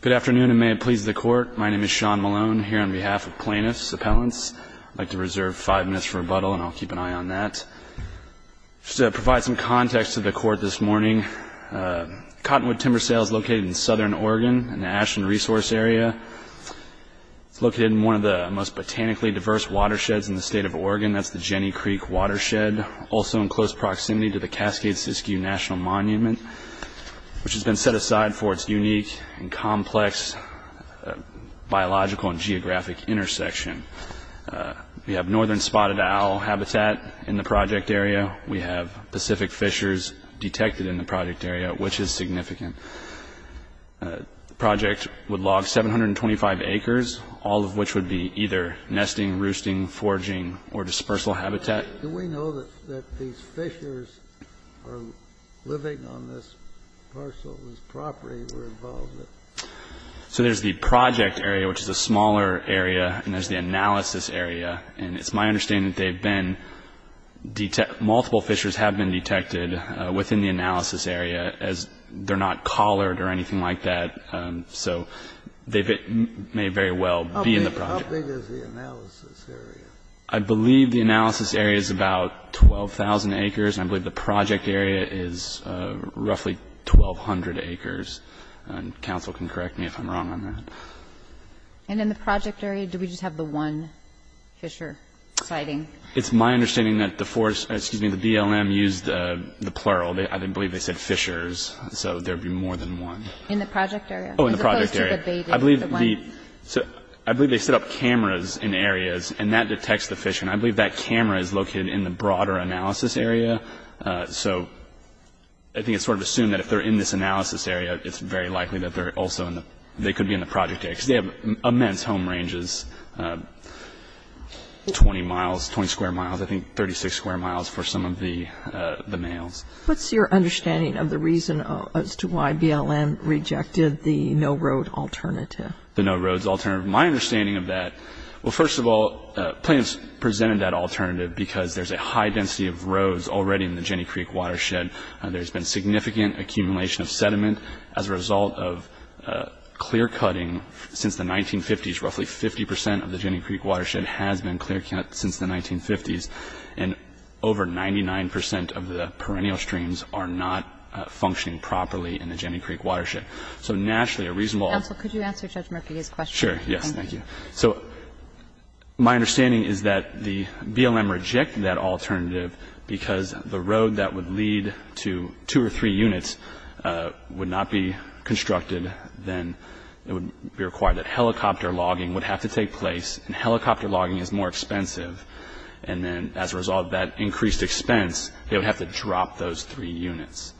Good afternoon and may it please the Court. My name is Sean Malone here on behalf of plaintiffs' appellants. I'd like to reserve five minutes for rebuttal and I'll keep an eye on that. Just to provide some context to the Court this morning, Cottonwood Timber Sale is located in Southern Oregon in the Ashland Resource Area. It's located in one of the most botanically diverse watersheds in the state of Oregon, that's the Jenny Creek Watershed, also in close proximity to the Cascade-Siskiyou National Monument, which has been set aside for its unique and complex biological and geographic intersection. We have northern spotted owl habitat in the project area. We have Pacific fishers detected in the project area, which is significant. The project would log 725 acres, all of which would be either nesting, roosting, foraging, or dispersal habitat. Do we know that these fishers are living on this parcel, this property we're involved in? So there's the project area, which is a smaller area, and there's the analysis area. And it's my understanding that they've been, multiple fishers have been detected within the analysis area as they're not collared or anything like that. So they may very well be in the project. How big is the analysis area? I believe the analysis area is about 12,000 acres, and I believe the project area is roughly 1,200 acres. And counsel can correct me if I'm wrong on that. And in the project area, do we just have the one fisher sighting? It's my understanding that the BLM used the plural. I believe they said fishers, so there'd be more than one. In the project area? Oh, in the project area. I believe they set up cameras in areas, and that detects the fishing. I believe that camera is located in the broader analysis area. So I think it's sort of assumed that if they're in this analysis area, it's very likely that they're also in the, they could be in the project area. Because they have immense home ranges, 20 miles, 20 square miles, I think 36 square miles for some of the males. What's your understanding of the reason as to why BLM rejected the no-road alternative? The no-roads alternative. My understanding of that, well, first of all, plaintiffs presented that alternative because there's a high density of roads already in the Jenny Creek watershed. There's been significant accumulation of sediment as a result of clear-cutting since the 1950s. Roughly 50 percent of the Jenny Creek watershed has been clear-cut since the 1950s, and over 99 percent of the perennial streams are not functioning properly in the Jenny Creek watershed. So naturally, a reasonable... Counsel, could you answer Judge Murphy's question? Sure. Yes. Thank you. So my understanding is that the BLM rejected that alternative because the road that would lead to two or three units would not be constructed. Then it would be required that helicopter logging would have to take place, and helicopter logging is more expensive. And then as a result of that increased expense, they would have to drop those three units.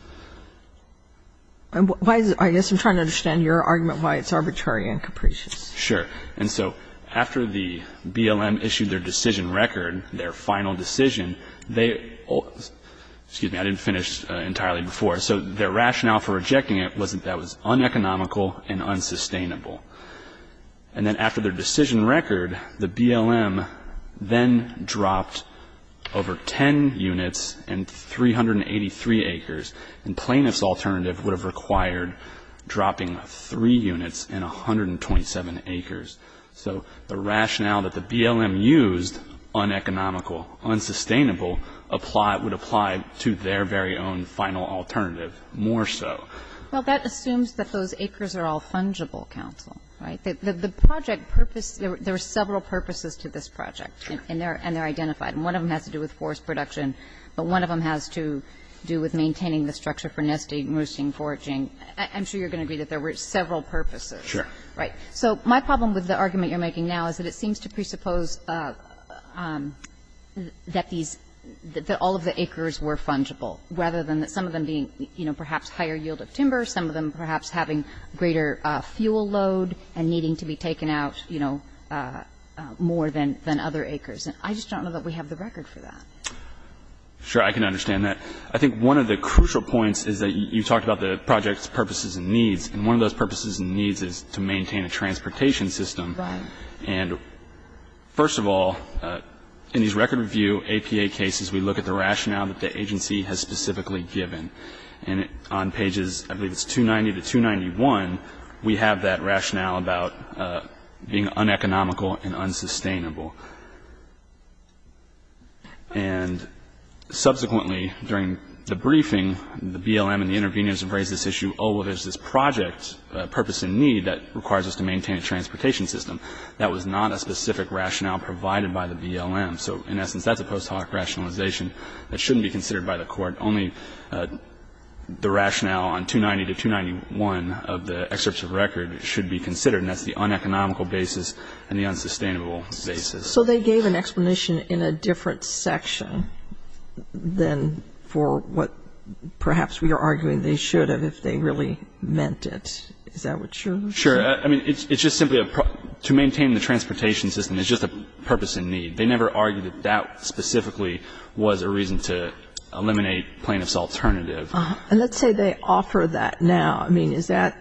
I guess I'm trying to understand your argument why it's arbitrary and capricious. Sure. And so after the BLM issued their decision record, their final decision, they... Excuse me. I didn't finish entirely before. So their rationale for rejecting it was that that was uneconomical and unsustainable. And then after their decision record, the BLM then dropped over 10 units and 383 acres. And plaintiff's alternative would have required dropping three units and 127 acres. So the rationale that the BLM used, uneconomical, unsustainable, would apply to their very own final alternative more so. Well, that assumes that those acres are all fungible, Counsel, right? The project purpose... There are several purposes to this project, and they're identified. And one of them has to do with forest production, but one of them has to do with maintaining the structure for nesting, roosting, foraging. I'm sure you're going to agree that there were several purposes. Sure. Right. So my problem with the argument you're making now is that it seems to presuppose that these, that all of the acres were fungible, rather than some of them being, you know, perhaps higher yield of timber, some of them perhaps having greater fuel load and needing to be taken out, you know, more than other acres. And I just don't know that we have the record for that. Sure. I can understand that. I think one of the crucial points is that you talked about the project's purposes and needs. And one of those purposes and needs is to maintain a transportation system. Right. And first of all, in these record review APA cases, we look at the rationale that the BLM has. And we look at the rationale about being uneconomical and unsustainable. And subsequently, during the briefing, the BLM and the interveners have raised this issue, oh, well, there's this project purpose and need that requires us to maintain a transportation system. That was not a specific rationale provided by the BLM. So in essence, that's a post hoc rationalization that shouldn't be considered by the Court. Only the rationale on 290 to 291 of the excerpts of record should be considered. And that's the uneconomical basis and the unsustainable basis. So they gave an explanation in a different section than for what perhaps we are arguing they should have if they really meant it. Is that what you're saying? Sure. I mean, it's just simply to maintain the transportation system is just a purpose and need. They never argued that that specifically was a reason to eliminate plaintiff's alternative. And let's say they offer that now. I mean, is that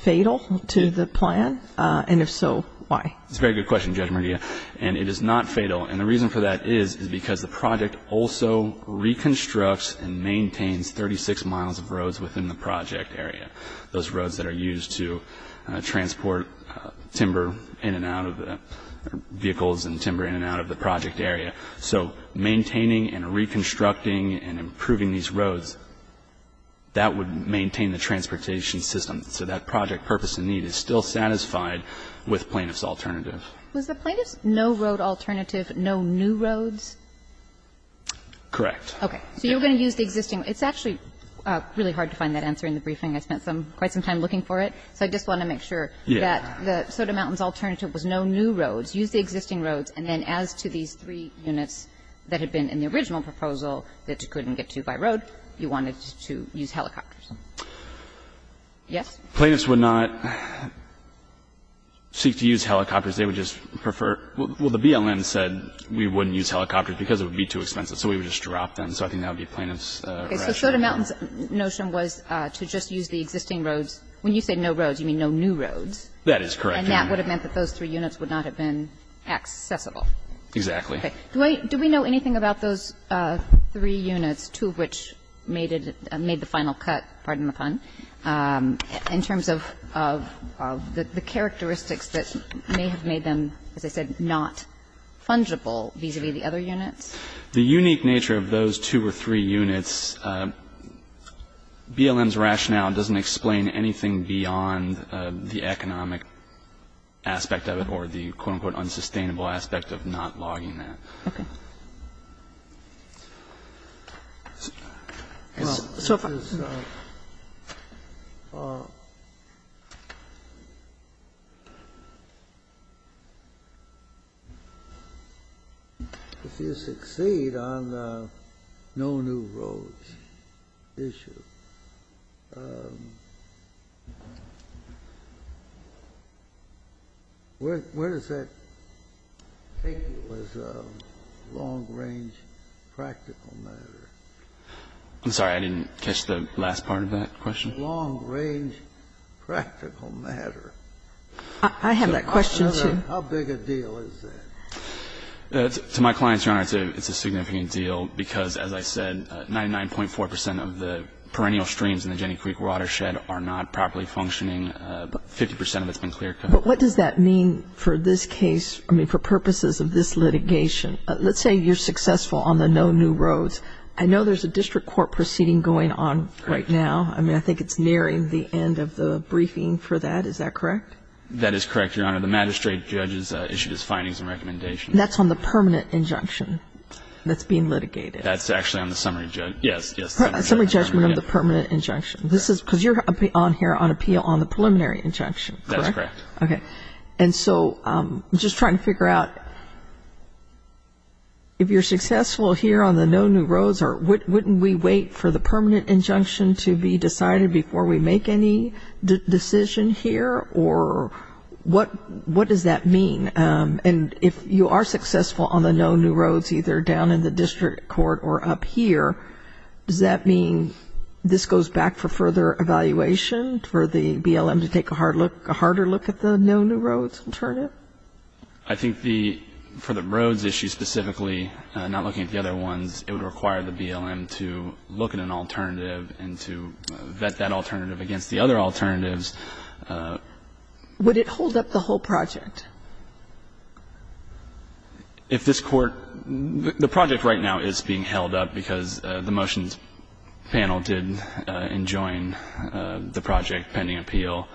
fatal to the plan? And if so, why? It's a very good question, Judge Mardia. And it is not fatal. And the reason for that is, is because the project also reconstructs and maintains 36 miles of roads within the project area. Those roads that are used to transport timber in and out of the vehicles and timber in and out of the project area. So maintaining and reconstructing and improving these roads, that would maintain the transportation system. So that project purpose and need is still satisfied with plaintiff's alternative. Was the plaintiff's no-road alternative no new roads? Correct. Okay. So you're going to use the existing. It's actually really hard to find that answer in the briefing. I spent some, quite some time looking for it. So I just want to make sure that the Soda Mountains alternative was no new roads. Use the existing roads. And then as to these three units that had been in the original proposal that you couldn't get to by road, you wanted to use helicopters. Yes? Plaintiffs would not seek to use helicopters. They would just prefer – well, the BLM said we wouldn't use helicopters because it would be too expensive. So we would just drop them. So I think that would be plaintiff's rationale. Okay. So Soda Mountains' notion was to just use the existing roads. When you say no roads, you mean no new roads. That is correct. And that would have meant that those three units would not have been accessible. Exactly. Okay. Do we know anything about those three units, two of which made the final cut – pardon the pun – in terms of the characteristics that may have made them, as I said, not fungible vis-a-vis the other units? The unique nature of those two or three units, BLM's rationale doesn't explain anything beyond the economic aspect of it or the, quote, unquote, unsustainable aspect of not logging that. Okay. Well, so if you succeed on the no new roads issue, where does that come from, if you I'm sorry. I didn't catch the last part of that question. I have that question, too. To my clients, Your Honor, it's a significant deal because, as I said, 99.4 percent of the perennial streams in the Jenny Creek Watershed are not properly functioning, 50 percent of it's been clear-cut. But what does that mean for this case, I mean, for purposes of this litigation? Let's say you're successful on the no new roads. I know there's a district court proceeding going on right now. I mean, I think it's nearing the end of the briefing for that. Is that correct? That is correct, Your Honor. The magistrate judge has issued his findings and recommendations. That's on the permanent injunction that's being litigated. That's actually on the summary – yes, yes. Summary judgment on the permanent injunction. This is – because you're on here on appeal on the preliminary injunction, correct? That's correct. Okay. And so, just trying to figure out, if you're successful here on the no new roads, wouldn't we wait for the permanent injunction to be decided before we make any decision here? Or what does that mean? And if you are successful on the no new roads, either down in the district court or up here, does that mean this goes back for further evaluation for the BLM to take a harder look at the no new roads alternative? I think the – for the roads issue specifically, not looking at the other ones, it would require the BLM to look at an alternative and to vet that alternative against the other alternatives. Would it hold up the whole project? If this court – the project right now is being held up because the motions panel did enjoin the project pending appeal,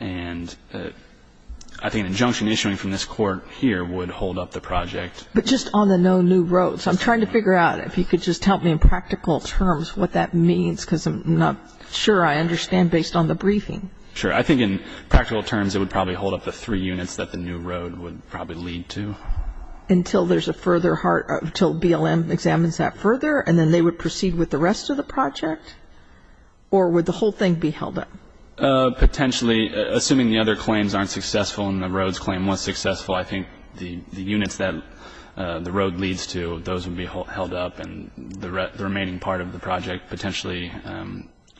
and I think an injunction issuing from this court here would hold up the project. But just on the no new roads, I'm trying to figure out, if you could just help me in practical terms, what that means, because I'm not sure I understand based on the briefing. Sure. I think in practical terms, it would probably hold up the three units that the new road would probably lead to. Until there's a further – until BLM examines that further, and then they would proceed with the rest of the project? Or would the whole thing be held up? Potentially. Assuming the other claims aren't successful and the roads claim was successful, I think the units that the road leads to, those would be held up, and the remaining part of the project potentially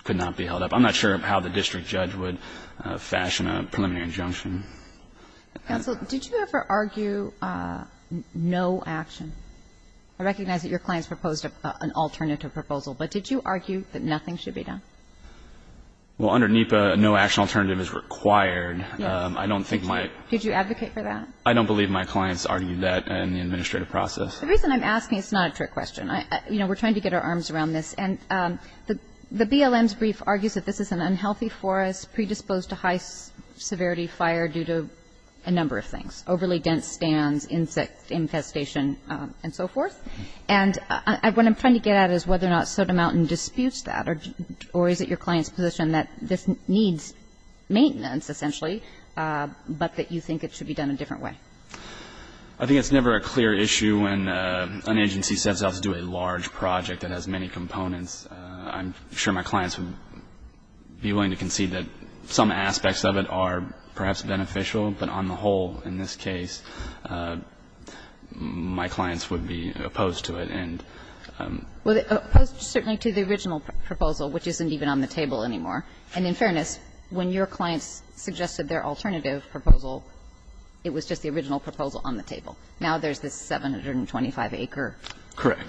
could not be held up. I'm not sure how the district judge would fashion a preliminary injunction. Counsel, did you ever argue no action? I recognize that your clients proposed an alternative proposal, but did you argue that nothing should be done? Well, under NEPA, no action alternative is required. I don't think my – Did you advocate for that? I don't believe my clients argued that in the administrative process. The reason I'm asking – it's not a trick question. You know, we're trying to get our arms around this. And the BLM's brief argues that this is an unhealthy forest predisposed to high severity fire due to a number of things – overly dense stands, insect infestation, and so forth. And what I'm trying to get at is whether or not Soda Mountain disputes that or is it your client's position that this needs maintenance, essentially, but that you think it should be done a different way? I think it's never a clear issue when an agency sets out to do a large project that has many components. I'm sure my clients would be willing to concede that some aspects of it are perhaps beneficial. But on the whole, in this case, my clients would be opposed to it. Well, opposed certainly to the original proposal, which isn't even on the table anymore. And in fairness, when your clients suggested their alternative proposal, it was just the original proposal on the table. Now there's this 725-acre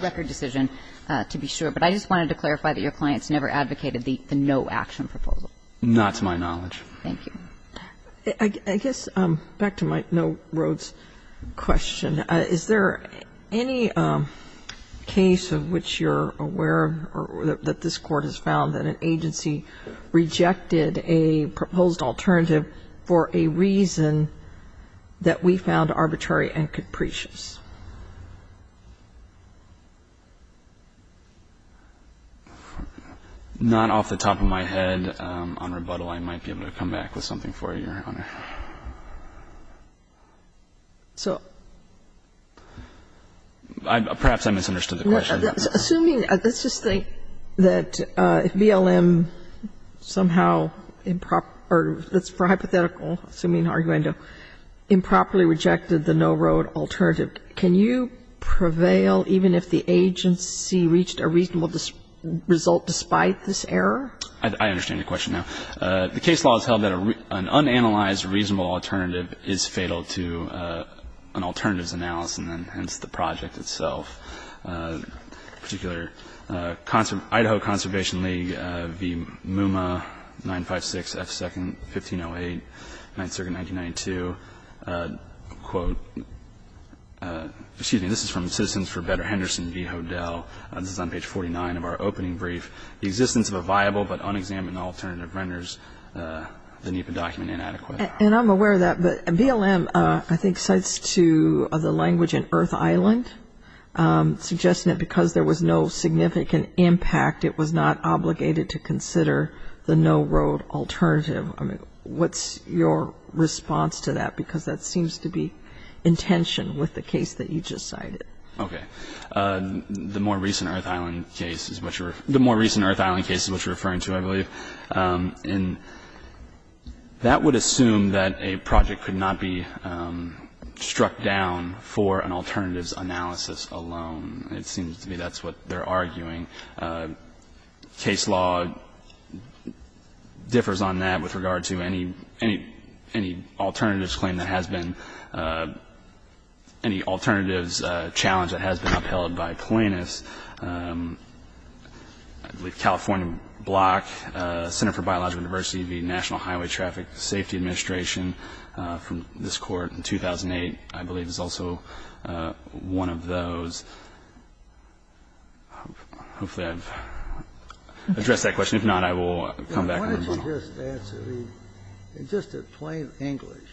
record decision to be sure. But I just wanted to clarify that your clients never advocated the no-action proposal. Not to my knowledge. Thank you. I guess back to my no-roads question. Is there any case of which you're aware of or that this Court has found that an agency rejected a proposed alternative for a reason that we found arbitrary and capricious? Not off the top of my head. On rebuttal, I might be able to come back with something for you, Your Honor. So... Perhaps I misunderstood the question. Assuming, let's just think that if BLM somehow, or that's hypothetical, assuming arguendo, improperly rejected the no-road alternative, can you prevail even if the agency reached a reasonable result despite this error? I understand your question now. The case law has held that an unanalyzed reasonable alternative is fatal to an alternative's analysis, and hence the project itself. A particular Idaho Conservation League, V. Muma, 956 F. Second, 1508, 9th Circuit, 1992, quote, excuse me, this is from Citizens for Better Henderson v. Hodel. This is on page 49 of our opening brief. The existence of a viable but unexamined alternative renders the NEPA document inadequate. And I'm aware of that. But BLM, I think, cites to the language in Earth Island, suggesting that because there was no significant impact, it was not obligated to consider the no-road alternative. I mean, what's your response to that? Because that seems to be in tension with the case that you just cited. Okay. The more recent Earth Island case is what you're referring to, I believe. And that would assume that a project could not be struck down for an alternative's analysis alone. It seems to me that's what they're arguing. Case law differs on that with regard to any alternative's claim that has been, any alternative's challenge that has been upheld by plaintiffs. I believe California Block, Center for Biological Diversity v. National Highway Traffic Safety Administration, from this Court in 2008, I believe, is also one of those. Hopefully I've addressed that question. In just plain English,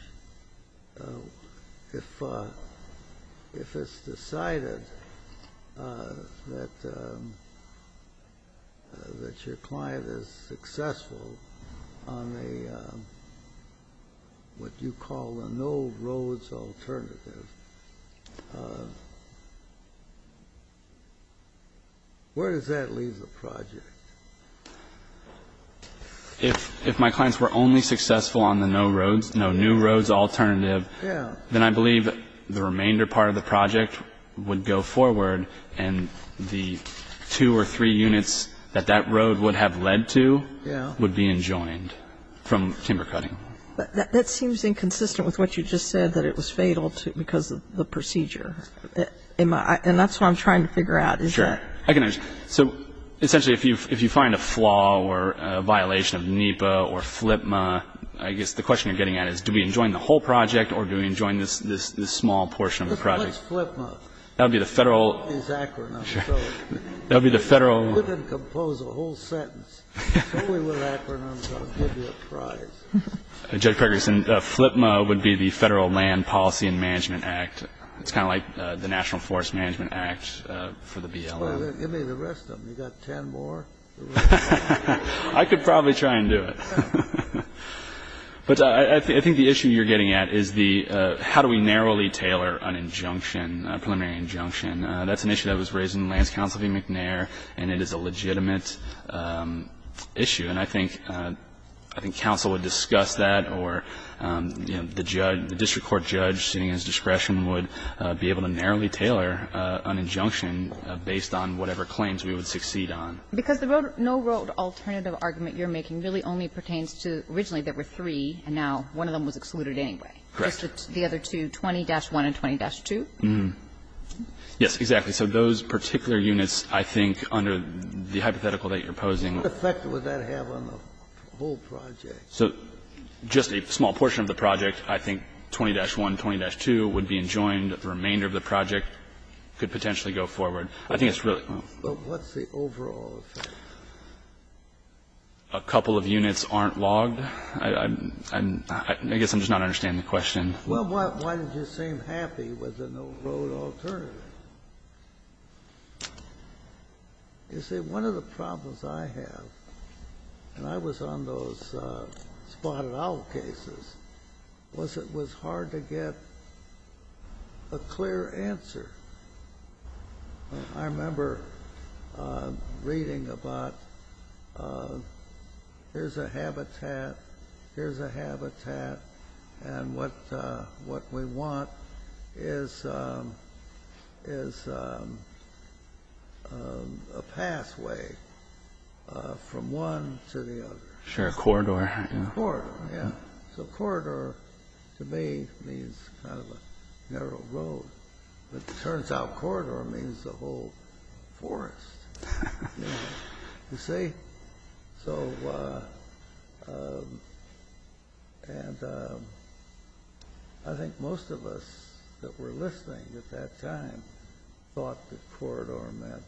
if it's decided that your client is successful on what you call a no-roads alternative, where does that leave the project? If my clients were only successful on the no-roads, no-new-roads alternative, then I believe the remainder part of the project would go forward and the two or three units that that road would have led to would be enjoined from timber cutting. But that seems inconsistent with what you just said, that it was fatal because of the procedure. And that's what I'm trying to figure out. Sure. So essentially, if you find a flaw or a violation of NEPA or FLPMA, I guess the question you're getting at is, do we enjoin the whole project or do we enjoin this small portion of the project? What's FLPMA? That would be the federal... It's acronyms. That would be the federal... You can compose a whole sentence. It's only with acronyms. I'll give you a prize. Judge Pregerson, FLPMA would be the Federal Land Policy and Management Act. It's kind of like the National Forest Management Act for the BLM. Give me the rest of them. You got 10 more? I could probably try and do it. But I think the issue you're getting at is the, how do we narrowly tailor an injunction, a preliminary injunction? That's an issue that was raised in Lance Counsel v. McNair, and it is a legitimate issue. And I think counsel would discuss that or the district court judge, seeing his discretion, would be able to narrowly tailor an injunction based on whatever claims we would succeed on. Because the no-road alternative argument you're making really only pertains to originally there were three, and now one of them was excluded anyway. Correct. Just the other two, 20-1 and 20-2? Yes, exactly. So those particular units, I think, under the hypothetical that you're posing... What effect would that have on the whole project? So just a small portion of the project, I think 20-1, 20-2 would be enjoined. The remainder of the project could potentially go forward. I think it's really... But what's the overall effect? A couple of units aren't logged. I guess I'm just not understanding the question. Well, why did you seem happy with the no-road alternative? You see, one of the problems I have, and I was on those spotted owl cases, was it was hard to get a clear answer. I remember reading about, here's a habitat, here's a habitat, and what we want is a pathway from one to the other. Sure, a corridor. A corridor, yeah. So corridor, to me, means kind of a narrow road. But it turns out corridor means the whole forest. You see? So I think most of us that were listening at that time thought the corridor meant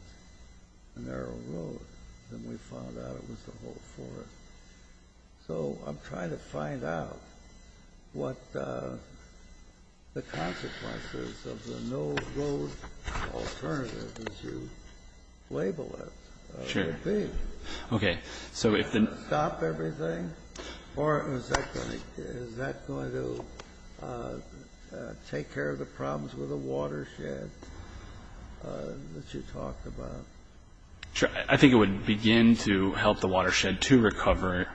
a narrow road. Then we found out it was the whole forest. So I'm trying to find out what the consequences of the no-road alternative, as you label it, would be. Okay. So if the... Would it stop everything? Or is that going to take care of the problems with the watershed that you talked about? Sure. I think it would begin to help the watershed to recover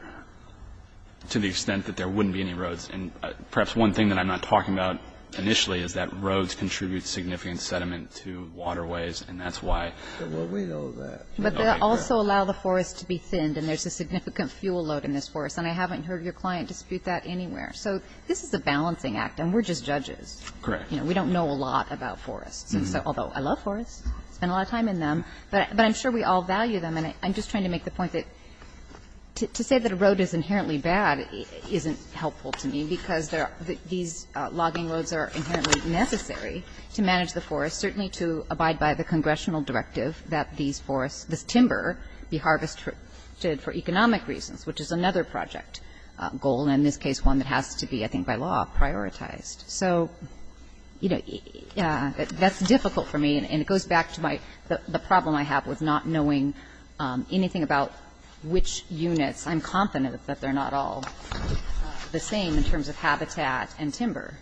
to the extent that there wouldn't be any roads. And perhaps one thing that I'm not talking about initially is that roads contribute significant sediment to waterways, and that's why... Well, we know that. But they also allow the forest to be thinned, and there's a significant fuel load in this forest. And I haven't heard your client dispute that anywhere. So this is a balancing act, and we're just judges. Correct. We don't know a lot about forests, although I love forests. I spend a lot of time in them. But I'm sure we all value them. And I'm just trying to make the point that to say that a road is inherently bad isn't helpful to me because these logging roads are inherently necessary to manage the forest, certainly to abide by the congressional directive that these forests, this timber, be harvested for economic reasons, which is another project goal, and in this case one that has to be, I think by law, prioritized. So, you know, that's difficult for me, and it goes back to the problem I have with not knowing anything about which units. I'm confident that they're not all the same in terms of habitat and timber.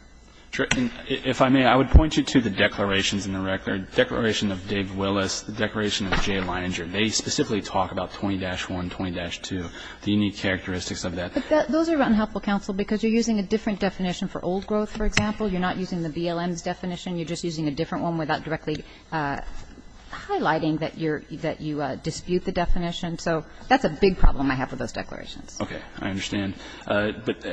And if I may, I would point you to the declarations in the record, the declaration of Dave Willis, the declaration of Jay Leininger. They specifically talk about 20-1, 20-2, the unique characteristics of that. But those are unhelpful, counsel, because you're using a different definition for old growth, for example. You're not using the BLM's definition. You're just using a different one without directly highlighting that you dispute the definition. So that's a big problem I have with those declarations. Okay. I understand. But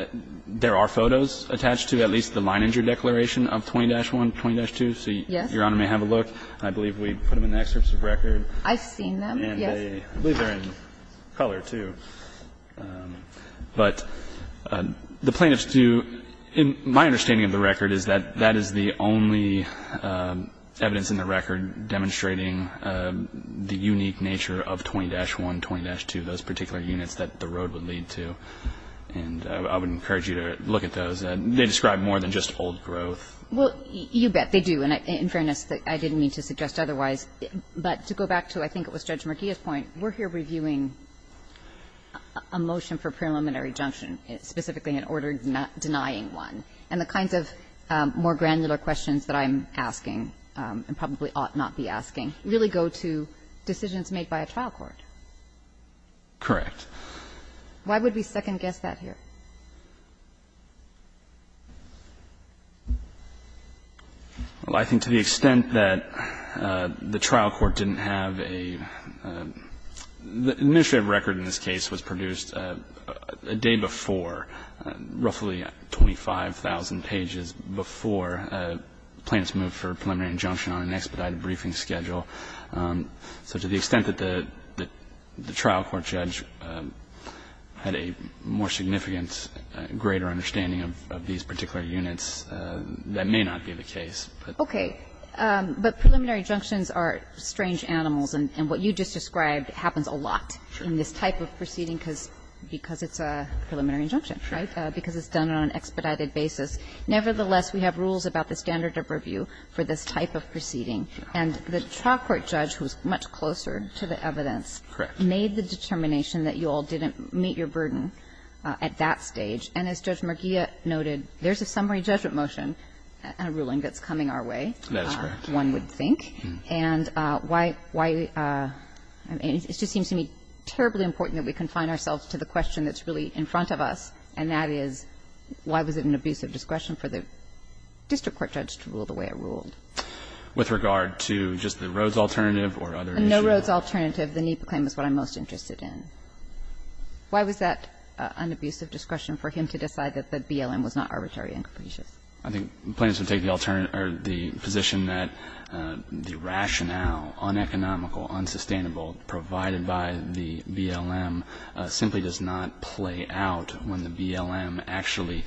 there are photos attached to at least the Leininger declaration of 20-1, 20-2. So Your Honor may have a look. I believe we put them in the excerpts of the record. I've seen them, yes. And I believe they're in color, too. But the plaintiffs do my understanding of the record is that that is the only evidence in the record demonstrating the unique nature of 20-1, 20-2, those particular units that the road would lead to. And I would encourage you to look at those. They describe more than just old growth. Well, you bet. They do. And in fairness, I didn't mean to suggest otherwise. But to go back to I think it was Judge Murgia's point, we're here reviewing a motion for preliminary junction, specifically an order denying one. And the kinds of more granular questions that I'm asking and probably ought not be asking really go to decisions made by a trial court. Correct. Why would we second-guess that here? Well, I think to the extent that the trial court didn't have a ---- the administrative record in this case was produced a day before, roughly 25,000 pages before a plaintiff's move for preliminary injunction on an expedited briefing schedule. So to the extent that the trial court judge had a more significant, greater understanding of these particular units, that may not be the case. Okay. But preliminary junctions are strange animals. And what you just described happens a lot in this type of proceeding because it's a preliminary injunction, right, because it's done on an expedited basis. Nevertheless, we have rules about the standard of review for this type of proceeding. And the trial court judge was much closer to the evidence. Correct. Made the determination that you all didn't meet your burden at that stage. And as Judge Merguia noted, there's a summary judgment motion and a ruling that's coming our way. That's correct. One would think. And why we ---- it just seems to me terribly important that we confine ourselves to the question that's really in front of us, and that is, why was it an abuse of discretion for the district court judge to rule the way it ruled? With regard to just the Rhodes alternative or other issues? No Rhodes alternative, the NEPA claim is what I'm most interested in. Why was that an abuse of discretion for him to decide that the BLM was not arbitrary and capricious? I think plaintiffs would take the position that the rationale, uneconomical, unsustainable, provided by the BLM, simply does not play out when the BLM actually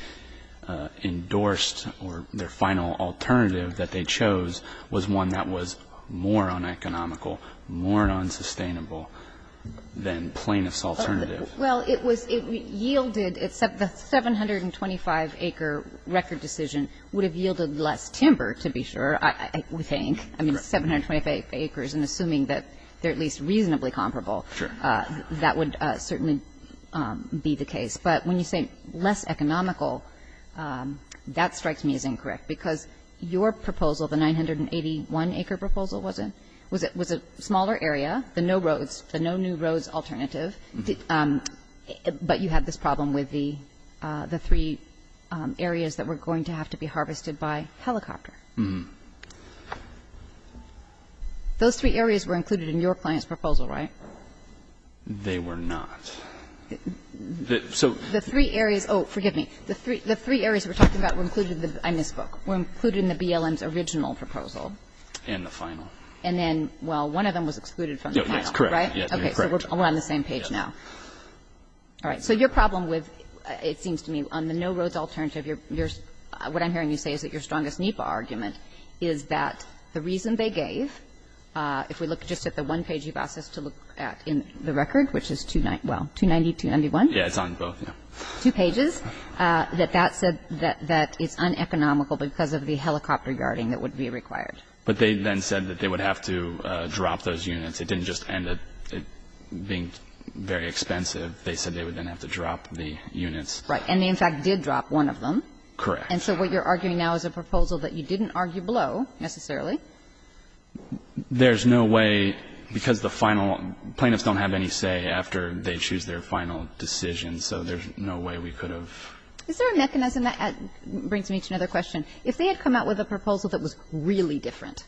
endorsed or their final alternative that they chose was one that was more uneconomical, more unsustainable than plaintiff's alternative. Well, it was ---- it yielded, the 725-acre record decision would have yielded less timber, to be sure, I would think. Correct. I mean, 725 acres, and assuming that they're at least reasonably comparable. Sure. That would certainly be the case. But when you say less economical, that strikes me as incorrect, because your proposal, the 981-acre proposal, was a smaller area, the no Rhodes, the no new Rhodes alternative, but you had this problem with the three areas that were going to have to be harvested by helicopter. Those three areas were included in your client's proposal, right? They were not. So the three areas, oh, forgive me, the three areas we're talking about were included in this book, were included in the BLM's original proposal. In the final. And then, well, one of them was excluded from the final, right? Yes, correct. Okay. So we're on the same page now. All right. So your problem with, it seems to me, on the no Rhodes alternative, what I'm hearing you say is that your strongest NEPA argument is that the reason they gave, if we look just at the one page you've asked us to look at in the record, which is, well, 290, 291. Yeah, it's on both, yeah. Two pages, that that said that it's uneconomical because of the helicopter yarding that would be required. But they then said that they would have to drop those units. It didn't just end up being very expensive. They said they would then have to drop the units. Right. And they, in fact, did drop one of them. Correct. And so what you're arguing now is a proposal that you didn't argue below, necessarily. There's no way, because the final, plaintiffs don't have any say after they choose their final decision, so there's no way we could have. Is there a mechanism that brings me to another question? If they had come out with a proposal that was really different,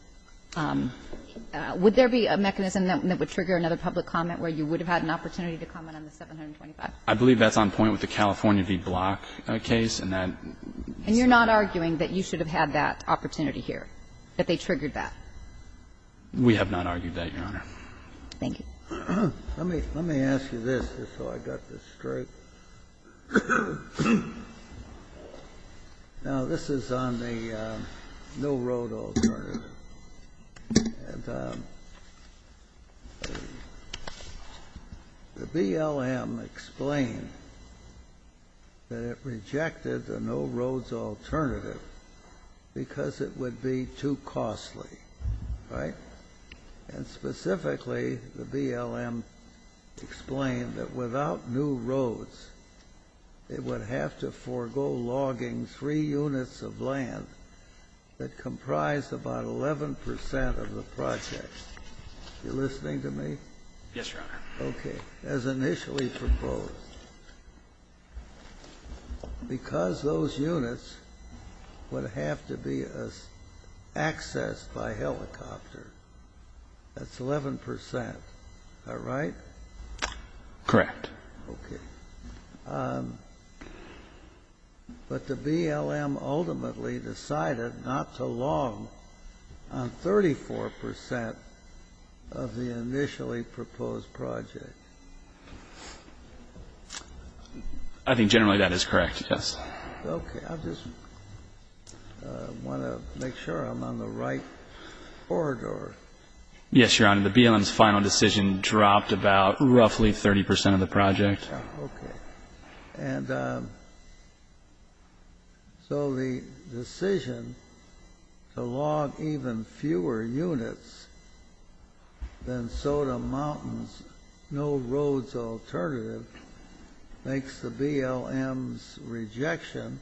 would there be a mechanism that would trigger another public comment where you would have had an opportunity to comment on the 725? I believe that's on point with the California v. Block case, and that's not. So you're not arguing that you should have had that opportunity here, that they triggered that? We have not argued that, Your Honor. Thank you. Let me ask you this, just so I got this straight. Now, this is on the no-road alternative, and the BLM explained that it rejected the no-roads alternative because it would be too costly, right? And specifically, the BLM explained that without new roads, it would have to forego logging three units of land that comprised about 11 percent of the project. Are you listening to me? Yes, Your Honor. Okay. As initially proposed, because those units would have to be accessed by helicopter, that's 11 percent. Is that right? Correct. Okay. But the BLM ultimately decided not to log on 34 percent of the initially proposed project. I think generally that is correct, yes. Okay. I just want to make sure I'm on the right corridor. Yes, Your Honor. The BLM's final decision dropped about roughly 30 percent of the project. Okay. And so the decision to log even fewer units than Soda Mountain's no-roads alternative makes the BLM's rejection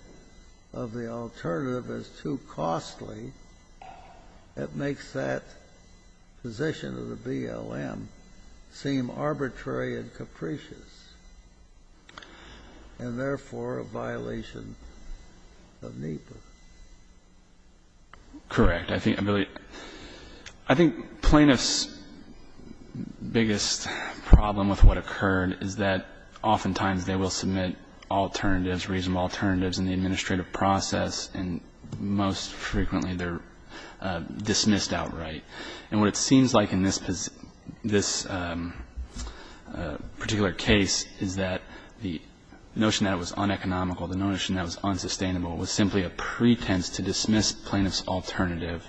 of the alternative as too costly. It makes that position of the BLM seem arbitrary and capricious. And therefore, a violation of NEPA. Correct. I think plaintiff's biggest problem with what occurred is that oftentimes they will submit alternatives, reasonable alternatives in the administrative process, and most frequently they're dismissed outright. And what it seems like in this particular case is that the notion that it was uneconomical, the notion that it was unsustainable, was simply a pretense to dismiss plaintiff's alternative.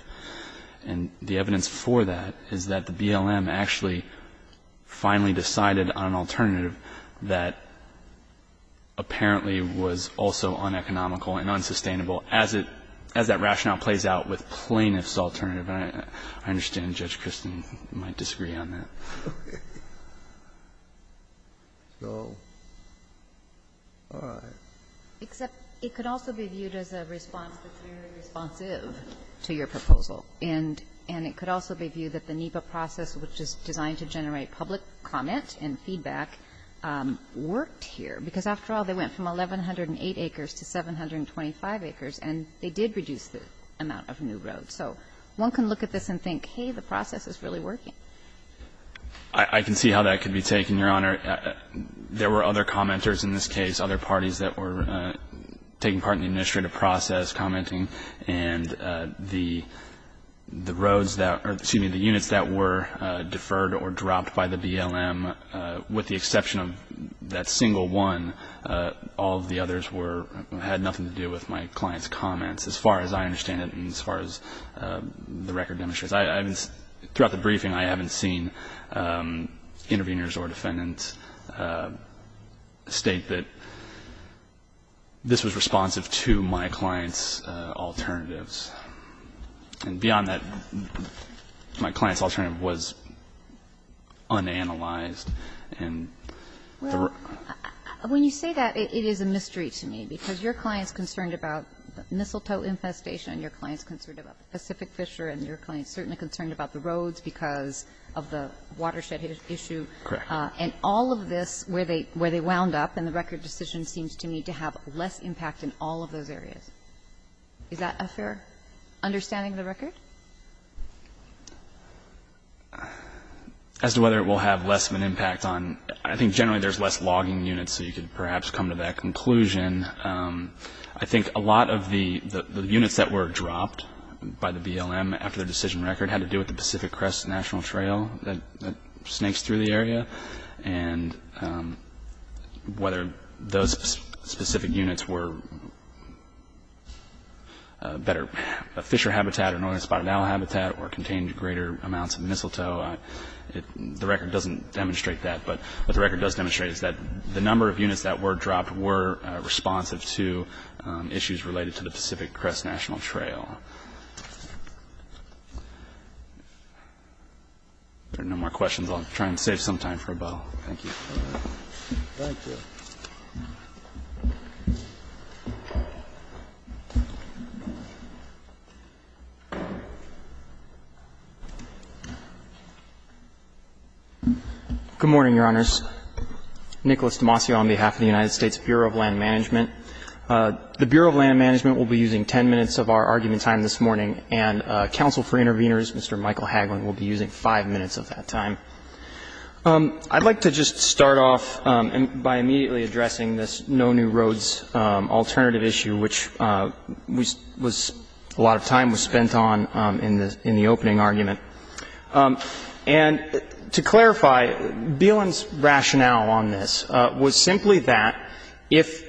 And the evidence for that is that the BLM actually finally decided on an alternative that apparently was also uneconomical and unsustainable as that rationale plays out with plaintiff's alternative. And I understand Judge Kristen might disagree on that. So, all right. Except it could also be viewed as a response that's very responsive to your proposal. And it could also be viewed that the NEPA process, which is designed to generate public comment and feedback, worked here. Because after all, they went from 1,108 acres to 725 acres, and they did reduce the amount of new roads. So, one can look at this and think, hey, the process is really working. I can see how that could be taken, Your Honor. There were other commenters in this case, other parties that were taking part in the administrative process commenting. And the roads that, or excuse me, the units that were deferred or dropped by the BLM, with the exception of that single one, all of the others were, had nothing to do with my client's comments. As far as I understand it, and as far as the record demonstrates, I haven't seen, throughout the briefing, I haven't seen interveners or defendants state that this was responsive to my client's alternatives. And beyond that, my client's alternative was unanalyzed. And the road was not. And I'm not sure if you're concerned about the mistletoe infestation, and your client's concerned about the Pacific Fisher, and your client's certainly concerned about the roads because of the watershed issue. Correct. And all of this, where they wound up, and the record decision seems to me to have less impact in all of those areas. Is that a fair understanding of the record? As to whether it will have less of an impact on, I think generally there's less logging units, so you could perhaps come to that conclusion. I think a lot of the units that were dropped by the BLM after the decision record had to do with the Pacific Crest National Trail that snakes through the area. And whether those specific units were better fisher habitat or northern spotted owl habitat or contained greater amounts of mistletoe, the record doesn't demonstrate that. But what the record does demonstrate is that the number of units that were dropped were responsive to issues related to the Pacific Crest National Trail. If there are no more questions, I'll try and save some time for a bow. Thank you. Thank you. Good morning, Your Honors. Nicholas Demasio on behalf of the United States Bureau of Land Management. The Bureau of Land Management will be using 10 minutes of our argument time this morning, and counsel for interveners, Mr. Michael Hagelin, will be using 5 minutes of that time. I'd like to just start off by immediately addressing this no new roads alternative issue, which was a lot of time was spent on in the opening argument. And to clarify, BLM's rationale on this was simply that if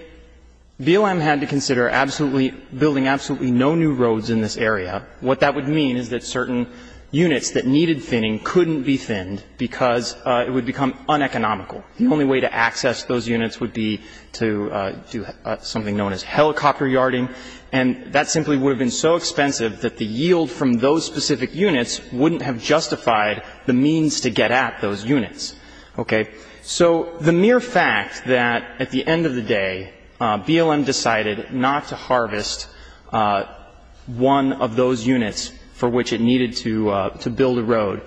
BLM had to consider absolutely building absolutely no new roads in this area, what that would mean is that units that needed thinning couldn't be thinned because it would become uneconomical. The only way to access those units would be to do something known as helicopter yarding. And that simply would have been so expensive that the yield from those specific units wouldn't have justified the means to get at those units. Okay? So the mere fact that at the end of the day, BLM decided not to harvest one of those for which it needed to build a road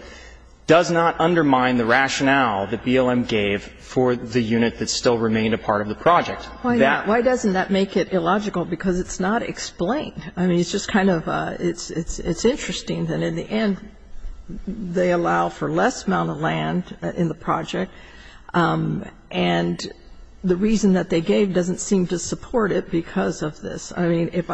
does not undermine the rationale that BLM gave for the unit that still remained a part of the project. Why not? Why doesn't that make it illogical? Because it's not explained. I mean, it's just kind of it's interesting that in the end, they allow for less amount of land in the project. And the reason that they gave doesn't seem to support it because of this. I mean, if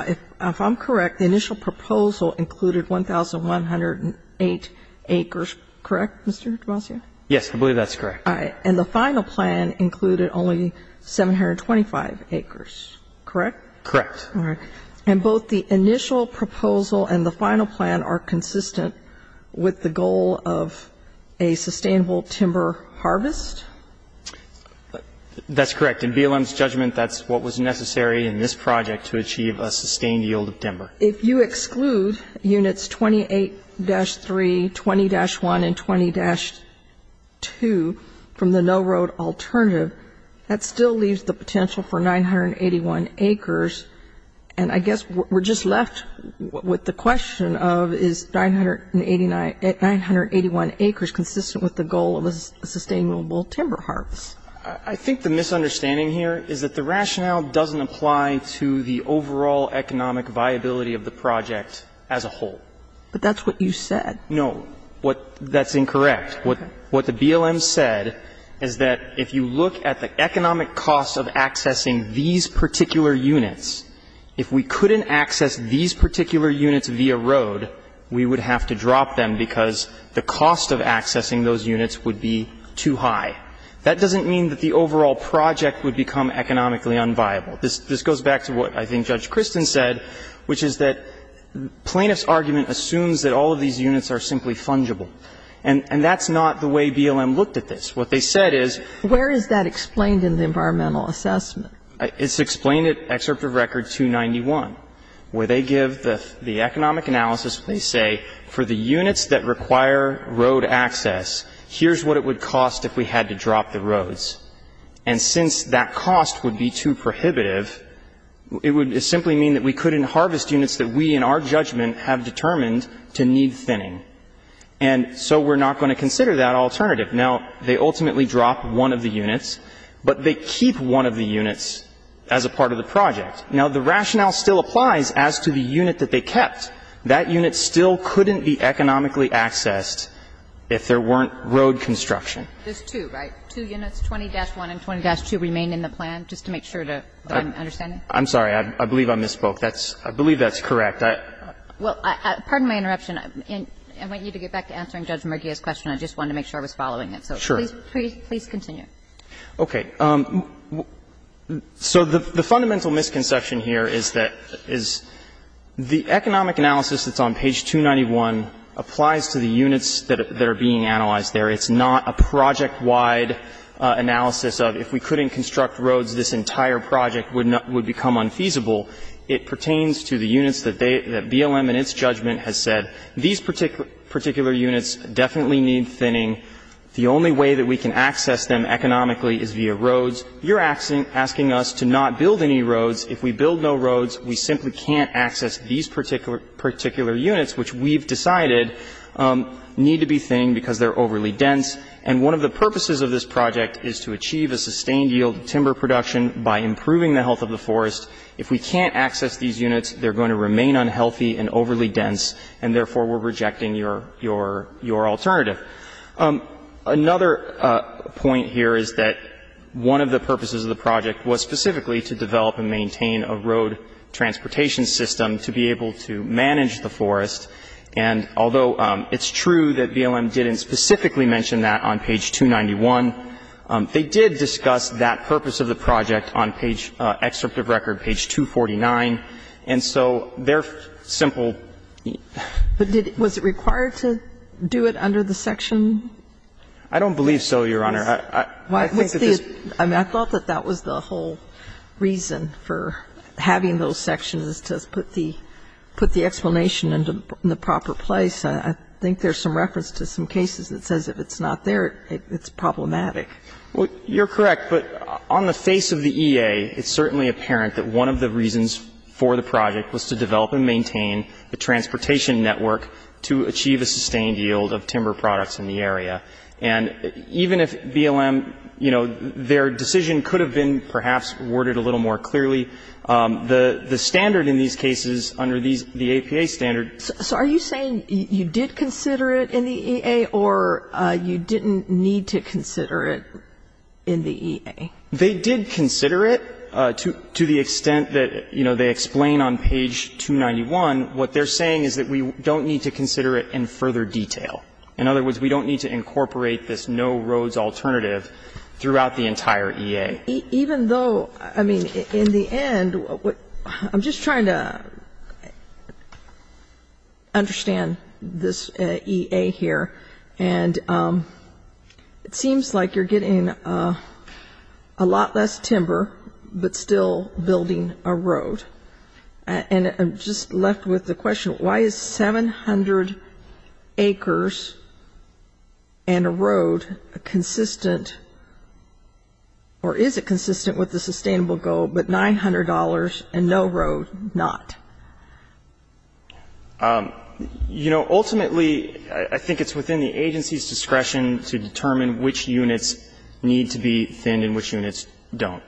I'm correct, the initial proposal included 1,108 acres, correct, Mr. DeBlasio? Yes, I believe that's correct. All right. And the final plan included only 725 acres, correct? Correct. All right. And both the initial proposal and the final plan are consistent with the goal of a sustainable timber harvest? That's correct. In BLM's judgment, that's what was necessary in this project to achieve a sustained yield of timber. If you exclude units 28-3, 20-1, and 20-2 from the no-road alternative, that still leaves the potential for 981 acres. And I guess we're just left with the question of is 981 acres consistent with the goal of a sustainable timber harvest? I think the misunderstanding here is that the rationale doesn't apply to the overall economic viability of the project as a whole. But that's what you said. No. That's incorrect. What the BLM said is that if you look at the economic cost of accessing these particular units, if we couldn't access these particular units via road, we would have to drop them because the cost of accessing those units would be too high. That doesn't mean that the overall project would become economically unviable. This goes back to what I think Judge Kristin said, which is that plaintiff's argument assumes that all of these units are simply fungible. And that's not the way BLM looked at this. What they said is ---- Where is that explained in the environmental assessment? It's explained at Excerpt of Record 291, where they give the economic analysis where they say for the units that require road access, here's what it would cost if we had to drop the roads. And since that cost would be too prohibitive, it would simply mean that we couldn't harvest units that we in our judgment have determined to need thinning. And so we're not going to consider that alternative. Now, they ultimately drop one of the units, but they keep one of the units as a part of the project. Now, the rationale still applies as to the unit that they kept. That unit still couldn't be economically accessed if there weren't road construction. There's two, right? Two units, 20-1 and 20-2, remain in the plan, just to make sure that I'm understanding? I'm sorry. I believe I misspoke. That's ---- I believe that's correct. Well, pardon my interruption. I might need to get back to answering Judge Mergia's question. I just wanted to make sure I was following it. So please continue. Okay. So the fundamental misconception here is that the economic analysis that's on page 291 applies to the units that are being analyzed there. It's not a project-wide analysis of if we couldn't construct roads, this entire project would become unfeasible. It pertains to the units that BLM in its judgment has said, these particular units definitely need thinning. The only way that we can access them economically is via roads. You're asking us to not build any roads. If we build no roads, we simply can't access these particular units, which we've decided need to be thinned because they're overly dense. And one of the purposes of this project is to achieve a sustained yield of timber production by improving the health of the forest. If we can't access these units, they're going to remain unhealthy and overly dense, and therefore we're rejecting your alternative. Another point here is that one of the purposes of the project was specifically to develop and maintain a road transportation system to be able to manage the forest. And although it's true that BLM didn't specifically mention that on page 291, they did discuss that purpose of the project on page excerpt of record, page 249. And so their simple ---- But did they do it under the section? I don't believe so, Your Honor. I think that this ---- I thought that that was the whole reason for having those sections, to put the explanation in the proper place. I think there's some reference to some cases that says if it's not there, it's problematic. Well, you're correct. But on the face of the EA, it's certainly apparent that one of the reasons for the project was to develop and maintain a transportation network to achieve a sustained yield of timber products in the area. And even if BLM, you know, their decision could have been perhaps worded a little more So are you saying you did consider it in the EA, or you didn't need to consider it in the EA? They did consider it, to the extent that, you know, they explain on page 291. What they're saying is that we don't need to consider it in further detail. In other words, we don't need to incorporate this no roads alternative throughout the entire EA. Even though, I mean, in the end, what ---- I'm just trying to ---- understand this EA here. And it seems like you're getting a lot less timber, but still building a road. And I'm just left with the question, why is 700 acres and a road a consistent or is it consistent with the sustainable goal, but $900 and no road, not? You know, ultimately, I think it's within the agency's discretion to determine which units need to be thinned and which units don't.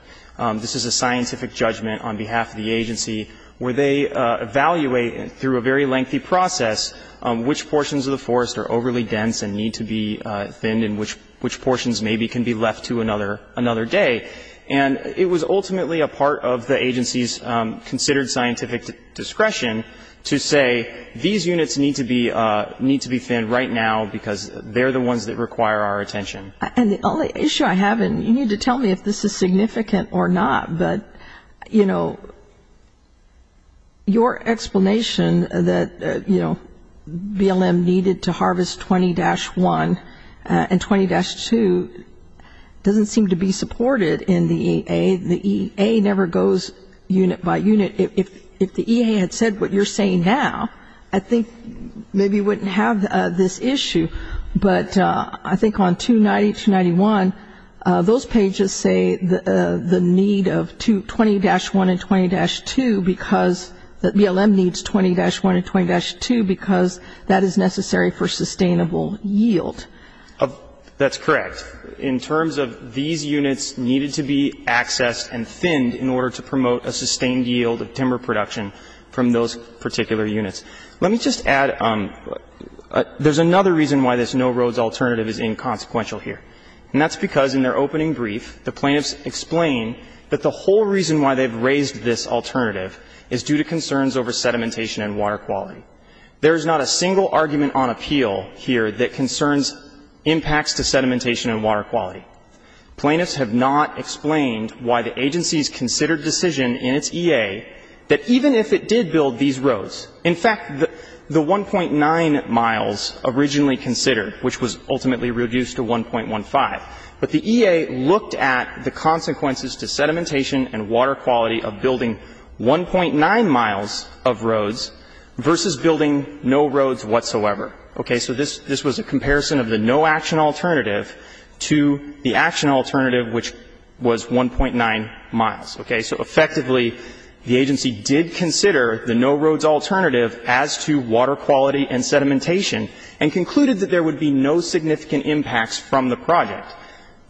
This is a scientific judgment on behalf of the agency where they evaluate through a very lengthy process which portions of the forest are overly dense and need to be thinned and which portions maybe can be left to another day. And it was ultimately a part of the agency's considered scientific discretion to say, these units need to be thinned right now because they're the ones that require our attention. And the only issue I have, and you need to tell me if this is significant or not, but, you know, your explanation that, you know, BLM needed to harvest 20-1 and 20-2 doesn't seem to be supported in the EA. The EA never goes unit by unit. If the EA had said what you're saying now, I think maybe you wouldn't have this issue. But I think on 290, 291, those pages say the need of 20-1 and 20-2 because the BLM needs 20-1 and 20-2 because that is necessary for sustainable yield. That's correct. In terms of these units needed to be accessed and thinned in order to promote a sustained yield of timber production from those particular units. Let me just add, there's another reason why this no roads alternative is inconsequential here, and that's because in their opening brief the plaintiffs explain that the whole reason why they've raised this alternative is due to concerns over sedimentation and water quality. There is not a single argument on appeal here that concerns impacts to sedimentation and water quality. Plaintiffs have not explained why the agencies considered decision in its EA that even if it did build these roads, in fact, the 1.9 miles originally considered, which was ultimately reduced to 1.15, but the EA looked at the consequences to sedimentation and water quality of building 1.9 miles of roads versus building no roads whatsoever. Okay. So this was a comparison of the no action alternative to the action alternative, which was 1.9 miles. Okay. So effectively, the agency did consider the no roads alternative as to water quality and sedimentation, and concluded that there would be no significant impacts from the project.